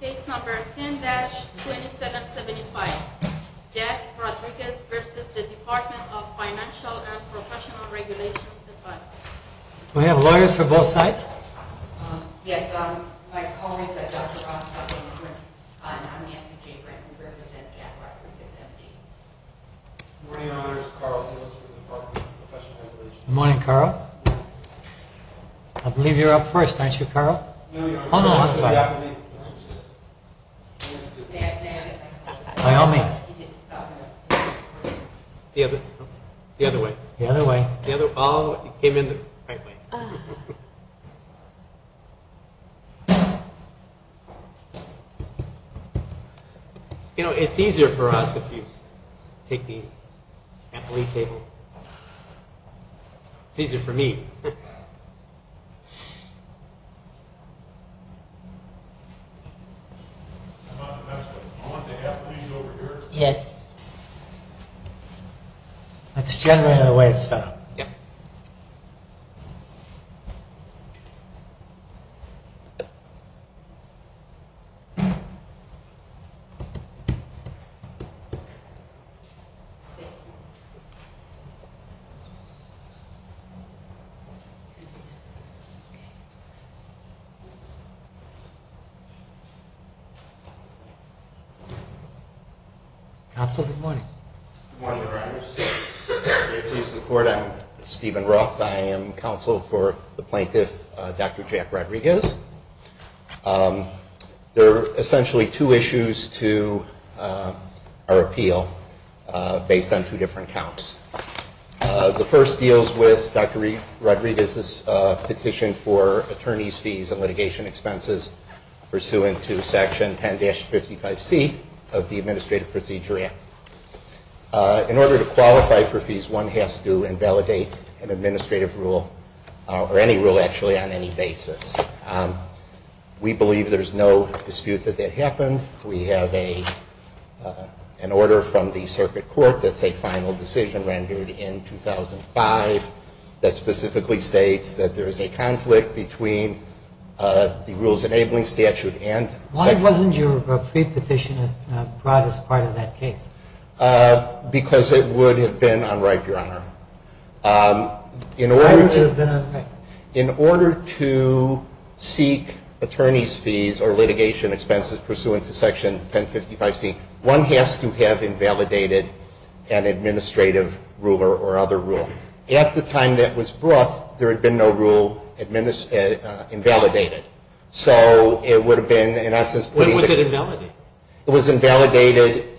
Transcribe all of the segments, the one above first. Case number 10-2775. Jack Rodriguez v. Department of Financial & Professional Regulations You know, it's easier for us if you take the ampoule table. It's easier for me. Thank you. Yes. Counsel, good morning. Good morning, Your Honors. I'm Stephen Roth. I am counsel for the plaintiff, Dr. Jack Rodriguez. There are essentially two issues to our appeal based on two different counts. The first deals with Dr. Rodriguez's petition for attorney's fees and litigation expenses pursuant to Section 10-55C of the Administrative Procedure Act. In order to qualify for fees, one has to invalidate an administrative rule or any rule actually on any basis. We believe there's no dispute that that happened. We have an order from the circuit court that's a final decision rendered in 2005 that specifically states that there is a conflict between the rules-enabling statute and Section 10-55C. Why wasn't your pre-petition brought as part of that case? Because it would have been unripe, Your Honor. Why would it have been unripe? In order to seek attorney's fees or litigation expenses pursuant to Section 10-55C, one has to have invalidated an administrative rule or other rule. At the time that was brought, there had been no rule invalidated. So it would have been, in essence- When was it invalidated? It was invalidated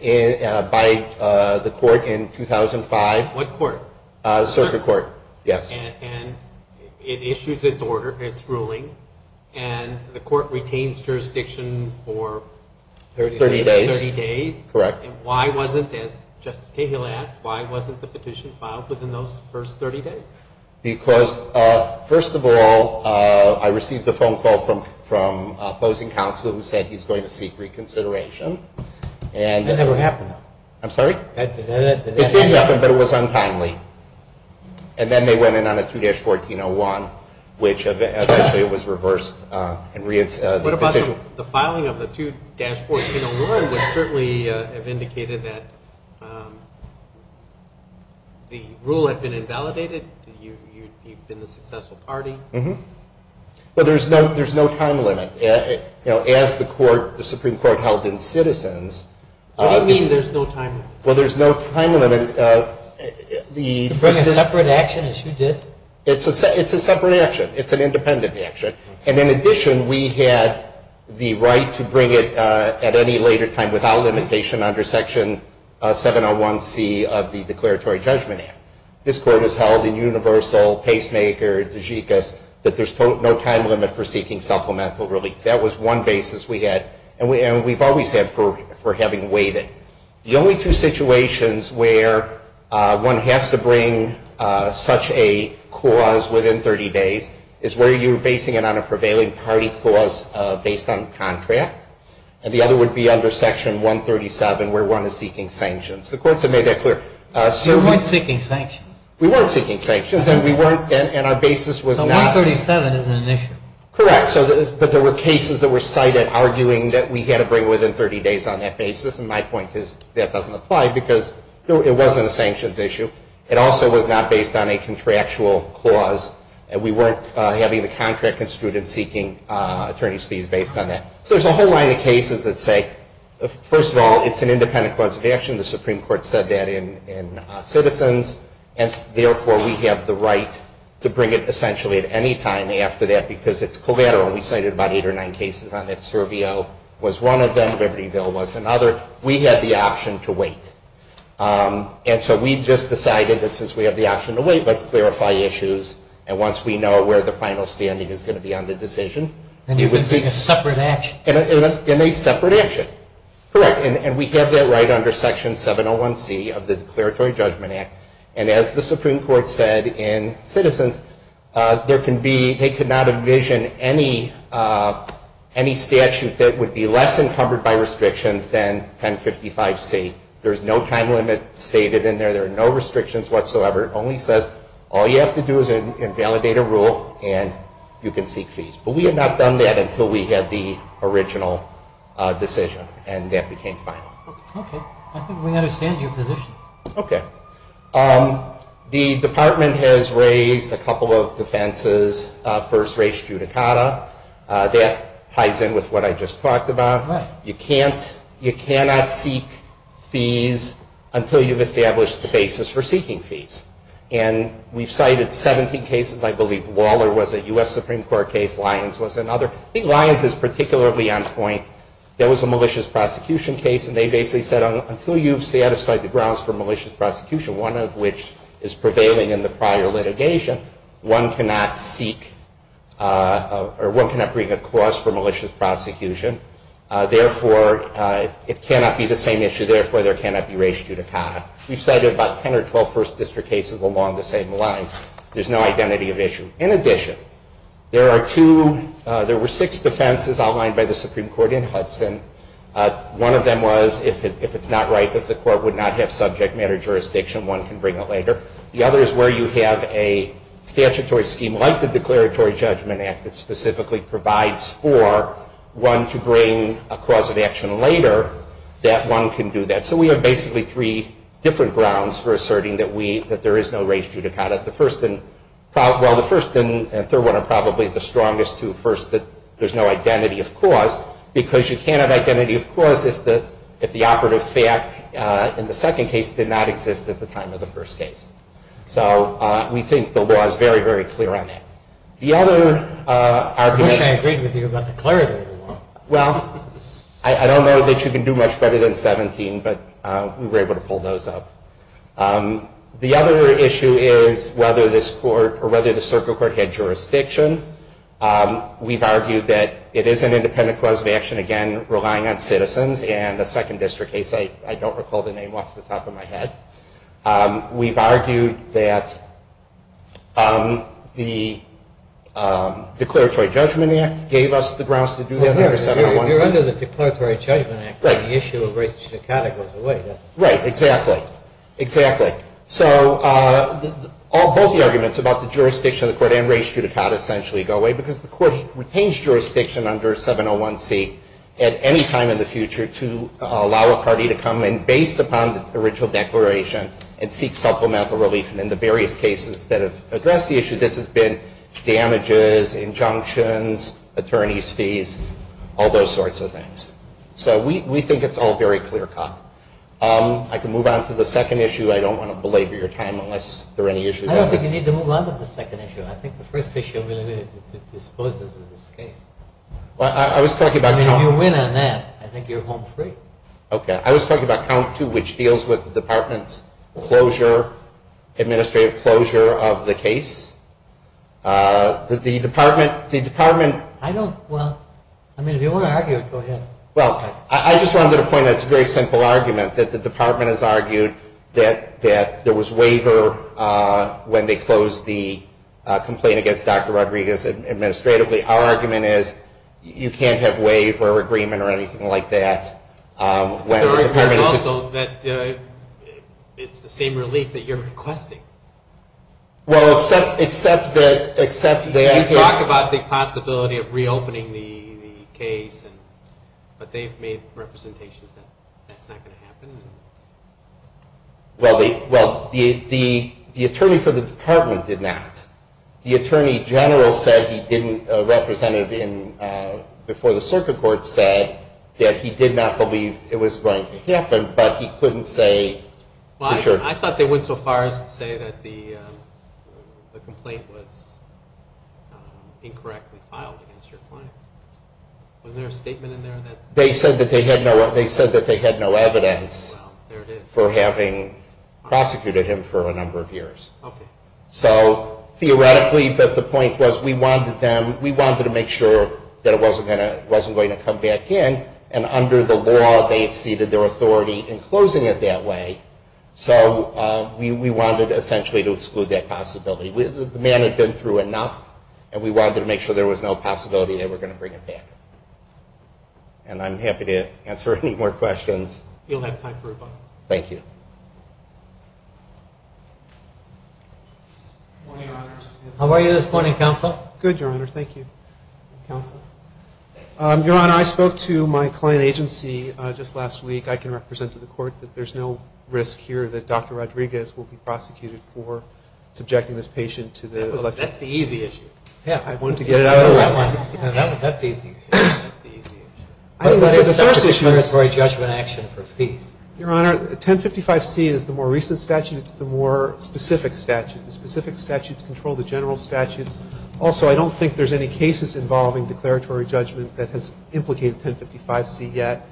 by the court in 2005. What court? Circuit court, yes. And it issues its order, its ruling, and the court retains jurisdiction for- 30 days. 30 days. Correct. And why wasn't, as Justice Cahill asked, why wasn't the petition filed within those first 30 days? Because, first of all, I received a phone call from opposing counsel who said he's going to seek reconsideration. That never happened. I'm sorry? It did happen, but it was untimely. And then they went in on a 2-1401, which eventually was reversed and reint- What about the filing of the 2-1401 would certainly have indicated that the rule had been invalidated? You'd been the successful party? Mm-hmm. But there's no time limit. As the Supreme Court held in Citizens- What do you mean there's no time limit? Well, there's no time limit. To bring a separate action, as you did? It's a separate action. It's an independent action. And in addition, we had the right to bring it at any later time without limitation under Section 701C of the Declaratory Judgment Act. This Court has held in Universal, Pacemaker, DeGicis, that there's no time limit for seeking supplemental relief. That was one basis we had, and we've always had for having waited. The only two situations where one has to bring such a cause within 30 days is where you're basing it on a prevailing party clause based on contract. And the other would be under Section 137, where one is seeking sanctions. The courts have made that clear. You weren't seeking sanctions? We weren't seeking sanctions, and we weren't- So 137 isn't an issue? Correct. But there were cases that were cited arguing that we had to bring it within 30 days on that basis. And my point is that doesn't apply because it wasn't a sanctions issue. It also was not based on a contractual clause, and we weren't having the contract constituted seeking attorney's fees based on that. So there's a whole line of cases that say, first of all, it's an independent cause of action. The Supreme Court said that in Citizens, and therefore we have the right to bring it essentially at any time after that because it's collateral. We cited about eight or nine cases on that survey. It was one of them. Libertyville was another. We had the option to wait. And so we just decided that since we have the option to wait, let's clarify issues. And once we know where the final standing is going to be on the decision- And you would seek a separate action? And a separate action. Correct. And we have that right under Section 701C of the Declaratory Judgment Act. And as the Supreme Court said in Citizens, they could not envision any statute that would be less encumbered by restrictions than 1055C. There's no time limit stated in there. There are no restrictions whatsoever. It only says all you have to do is invalidate a rule, and you can seek fees. But we had not done that until we had the original decision, and that became final. Okay. I think we understand your position. Okay. The Department has raised a couple of defenses. First, race judicata. That ties in with what I just talked about. Right. You cannot seek fees until you've established the basis for seeking fees. And we've cited 17 cases. I believe Waller was a U.S. Supreme Court case. Lyons was another. I think Lyons is particularly on point. There was a malicious prosecution case. And they basically said, until you've satisfied the grounds for malicious prosecution, one of which is prevailing in the prior litigation, one cannot seek or one cannot bring a cause for malicious prosecution. Therefore, it cannot be the same issue. Therefore, there cannot be race judicata. We've cited about 10 or 12 First District cases along the same lines. There's no identity of issue. In addition, there were six defenses outlined by the Supreme Court in Hudson. One of them was, if it's not right, if the court would not have subject matter jurisdiction, one can bring it later. The other is where you have a statutory scheme like the Declaratory Judgment Act that specifically provides for one to bring a cause of action later, that one can do that. So we have basically three different grounds for asserting that there is no race judicata. The first and third one are probably the strongest two. First, that there's no identity of cause, because you can't have identity of cause if the operative fact in the second case did not exist at the time of the first case. So we think the law is very, very clear on that. The other argument- I wish I agreed with you about the declaratory law. Well, I don't know that you can do much better than 17, but we were able to pull those up. The other issue is whether this court or whether the circuit court had jurisdiction. We've argued that it is an independent cause of action, again, relying on citizens. And the second district case, I don't recall the name off the top of my head. We've argued that the Declaratory Judgment Act gave us the grounds to do that- You're under the Declaratory Judgment Act, but the issue of race judicata goes away, doesn't it? Right. Exactly. Exactly. So both the arguments about the jurisdiction of the court and race judicata essentially go away, because the court retains jurisdiction under 701C at any time in the future to allow a party to come in based upon the original declaration and seek supplemental relief. And in the various cases that have addressed the issue, this has been damages, injunctions, attorney's fees, all those sorts of things. So we think it's all very clear-cut. I can move on to the second issue. I don't want to belabor your time unless there are any issues. I don't think you need to move on to the second issue. I think the first issue really disposes of this case. Well, I was talking about- I mean, if you win on that, I think you're home free. Okay. I was talking about count two, which deals with the Department's administrative closure of the case. The Department- I don't-well, I mean, if you want to argue, go ahead. Well, I just wanted to point out that it's a very simple argument, that the Department has argued that there was waiver when they closed the complaint against Dr. Rodriguez administratively. Our argument is you can't have waiver or agreement or anything like that when the Department is- There are arguments also that it's the same relief that you're requesting. Well, except that- They talk about the possibility of reopening the case, but they've made representations that that's not going to happen. Well, the attorney for the Department did not. The attorney general said he didn't-a representative before the circuit court said that he did not believe it was going to happen, but he couldn't say for sure. Well, I thought they went so far as to say that the complaint was incorrectly filed against your client. Wasn't there a statement in there that- They said that they had no evidence for having prosecuted him for a number of years. Okay. So theoretically, but the point was we wanted them-we wanted to make sure that it wasn't going to come back in, and under the law they had ceded their authority in closing it that way. So we wanted essentially to exclude that possibility. The man had been through enough, and we wanted to make sure there was no possibility they were going to bring it back. And I'm happy to answer any more questions. You'll have time for a button. Thank you. Good morning, Your Honors. How are you this morning, Counsel? Good, Your Honor. Thank you, Counsel. Your Honor, I spoke to my client agency just last week. I can represent to the Court that there's no risk here that Dr. Rodriguez will be prosecuted for subjecting this patient to the- That's the easy issue. I wanted to get it out there. That's the easy issue. I think the first issue is- For a judgment action for fees. Your Honor, 1055C is the more recent statute. It's the more specific statute. The specific statutes control the general statutes. Also, I don't think there's any cases involving declaratory judgment that has implicated 1055C yet.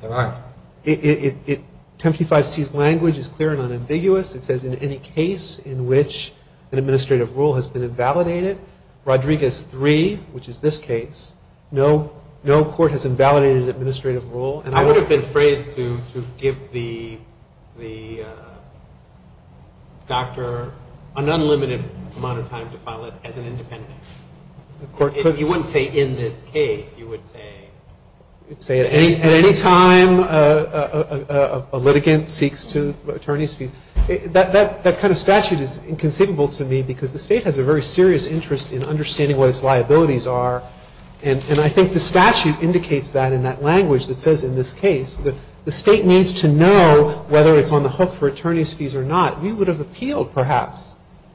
There are. 1055C's language is clear and unambiguous. It says in any case in which an administrative rule has been invalidated, Rodriguez 3, which is this case, no court has invalidated an administrative rule. I would have been phrased to give the doctor an unlimited amount of time to file it as an independent. You wouldn't say in this case. You would say- You would say at any time a litigant seeks to attorney's fees. That kind of statute is inconceivable to me because the state has a very serious interest in understanding what its liabilities are. And I think the statute indicates that in that language that says in this case, the state needs to know whether it's on the hook for attorney's fees or not. We would have appealed, perhaps,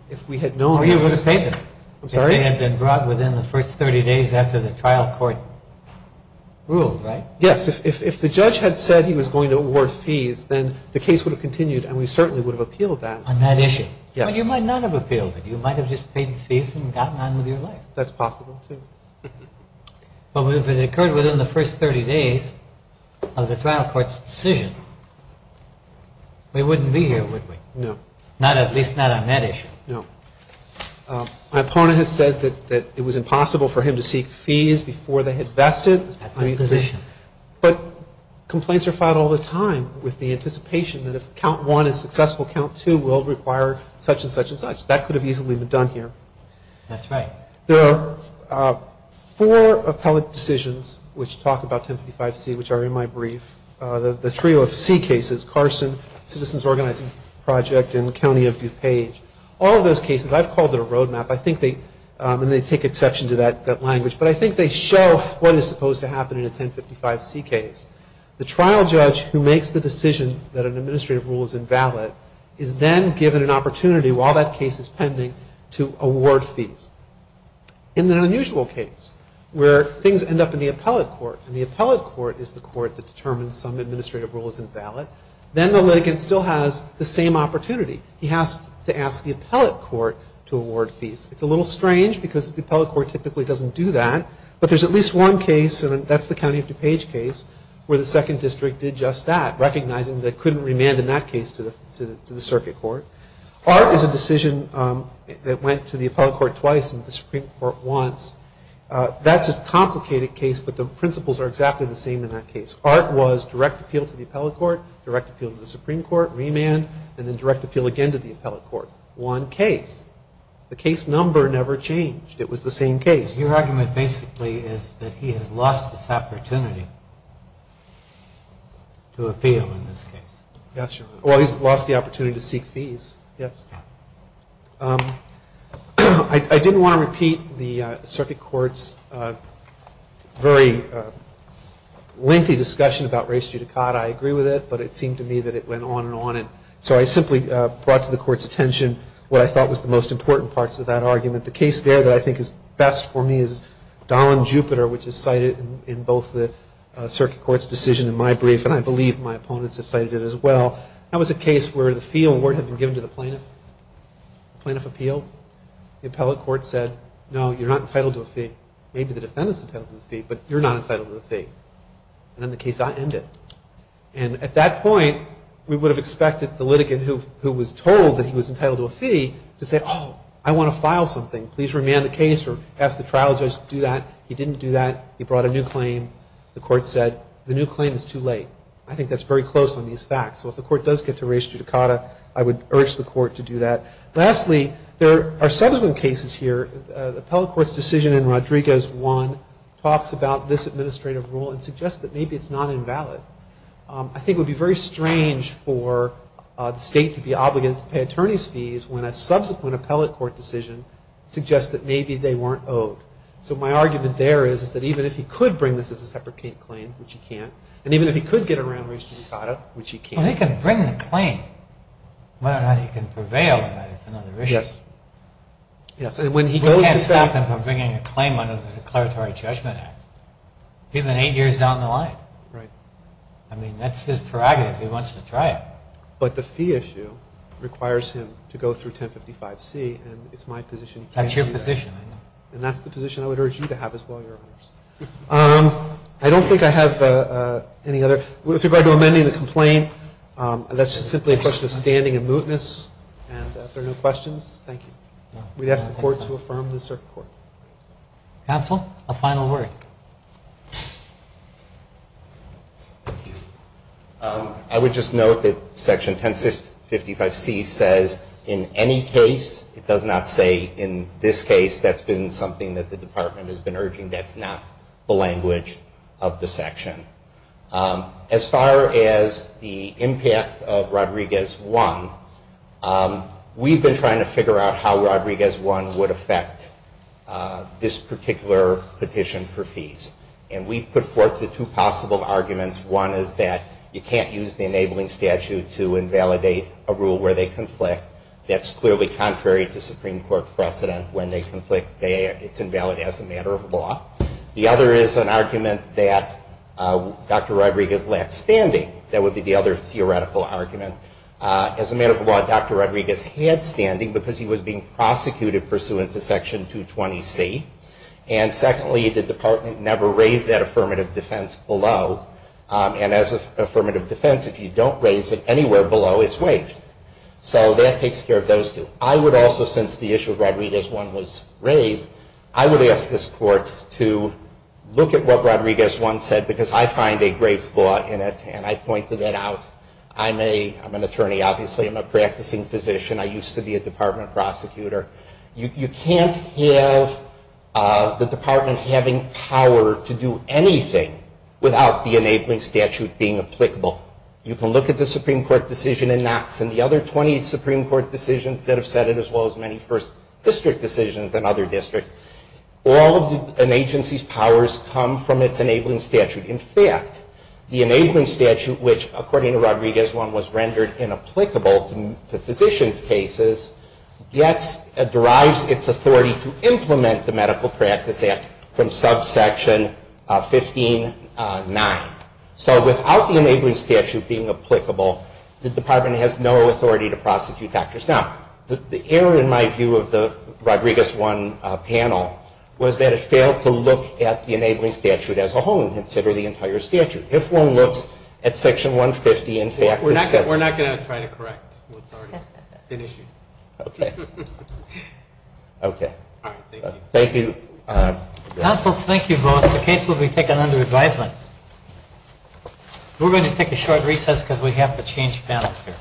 if we had known- Or you would have paid them. I'm sorry? If they had been brought within the first 30 days after the trial court ruled, right? Yes. If the judge had said he was going to award fees, then the case would have continued, and we certainly would have appealed that. On that issue. Yes. But you might not have appealed it. You might have just paid the fees and gotten on with your life. That's possible, too. But if it occurred within the first 30 days of the trial court's decision, we wouldn't be here, would we? No. At least not on that issue. No. My opponent has said that it was impossible for him to seek fees before they had vested. That's his position. But complaints are filed all the time with the anticipation that if count one is successful, count two will require such and such and such. That could have easily been done here. That's right. There are four appellate decisions which talk about 1055C, which are in my brief. The trio of C cases, Carson, Citizens Organizing Project, and County of DuPage. All of those cases, I've called it a roadmap. I think they take exception to that language. But I think they show what is supposed to happen in a 1055C case. The trial judge who makes the decision that an administrative rule is invalid is then given an opportunity, while that case is pending, to award fees. In an unusual case, where things end up in the appellate court, and the appellate court is the court that determines some administrative rule is invalid, then the litigant still has the same opportunity. He has to ask the appellate court to award fees. It's a little strange because the appellate court typically doesn't do that. But there's at least one case, and that's the County of DuPage case, where the second district did just that, recognizing they couldn't remand in that case to the circuit court. ART is a decision that went to the appellate court twice and the Supreme Court once. That's a complicated case, but the principles are exactly the same in that case. ART was direct appeal to the appellate court, direct appeal to the Supreme Court, remand, and then direct appeal again to the appellate court. One case. The case number never changed. It was the same case. Your argument basically is that he has lost his opportunity to appeal in this case. Yes, your Honor. Well, he's lost the opportunity to seek fees. Yes. I didn't want to repeat the circuit court's very lengthy discussion about race judicata. I agree with it, but it seemed to me that it went on and on. And so I simply brought to the court's attention what I thought was the most important parts of that argument. The case there that I think is best for me is Dahlin-Jupiter, which is cited in both the circuit court's decision and my brief, and I believe my opponents have cited it as well. That was a case where the fee award had been given to the plaintiff. The plaintiff appealed. The appellate court said, no, you're not entitled to a fee. Maybe the defendant's entitled to a fee, but you're not entitled to a fee. And then the case ended. And at that point, we would have expected the litigant who was told that he was entitled to a fee to say, oh, I want to file something. Please remand the case or ask the trial judge to do that. He didn't do that. He brought a new claim. The court said the new claim is too late. I think that's very close on these facts. So if the court does get to race judicata, I would urge the court to do that. Lastly, there are subsequent cases here. The appellate court's decision in Rodriguez 1 talks about this administrative rule and suggests that maybe it's not invalid. I think it would be very strange for the state to be obligated to pay attorney's fees when a subsequent appellate court decision suggests that maybe they weren't owed. So my argument there is that even if he could bring this as a separate claim, which he can't, and even if he could get around race judicata, which he can't. Well, he can bring the claim. Whether or not he can prevail on that is another issue. Yes. We can't stop him from bringing a claim under the Declaratory Judgment Act. Even eight years down the line. Right. I mean, that's his prerogative. He wants to try it. But the fee issue requires him to go through 1055C, and it's my position he can't do that. That's your position. And that's the position I would urge you to have as well, Your Honors. I don't think I have any other. With regard to amending the complaint, that's simply a question of standing and mootness. And if there are no questions, thank you. We'd ask the Court to affirm the circuit court. Counsel, a final word. I would just note that Section 1055C says in any case, it does not say in this case that's been something that the Department has been urging. That's not the language of the section. As far as the impact of Rodriguez 1, we've been trying to figure out how Rodriguez 1 would affect this particular petition for fees. And we've put forth the two possible arguments. One is that you can't use the enabling statute to invalidate a rule where they conflict. That's clearly contrary to Supreme Court precedent when they conflict. It's invalid as a matter of law. The other is an argument that Dr. Rodriguez lacked standing. That would be the other theoretical argument. As a matter of law, Dr. Rodriguez had standing because he was being prosecuted pursuant to Section 220C. And secondly, the Department never raised that affirmative defense below. And as an affirmative defense, if you don't raise it anywhere below, it's waived. So that takes care of those two. I would also, since the issue of Rodriguez 1 was raised, I would ask this Court to look at what Rodriguez 1 said because I find a grave flaw in it. And I pointed that out. I'm an attorney, obviously. I'm a practicing physician. I used to be a Department prosecutor. You can't have the Department having power to do anything without the enabling statute being applicable. You can look at the Supreme Court decision in Knox and the other 20 Supreme Court decisions that have said it, as well as many first district decisions in other districts. All of an agency's powers come from its enabling statute. In fact, the enabling statute, which, according to Rodriguez 1, was rendered inapplicable to physicians' cases, derives its authority to implement the Medical Practice Act from subsection 15.9. So without the enabling statute being applicable, the Department has no authority to prosecute doctors. Now, the error, in my view, of the Rodriguez 1 panel was that it failed to look at the enabling statute as a whole and consider the entire statute. If one looks at section 150, in fact, it says that. We're not going to try to correct what's already been issued. Okay. Okay. All right. Thank you. Thank you. Counsel, thank you both. The case will be taken under advisement. We're going to take a short recess because we have to change panels here.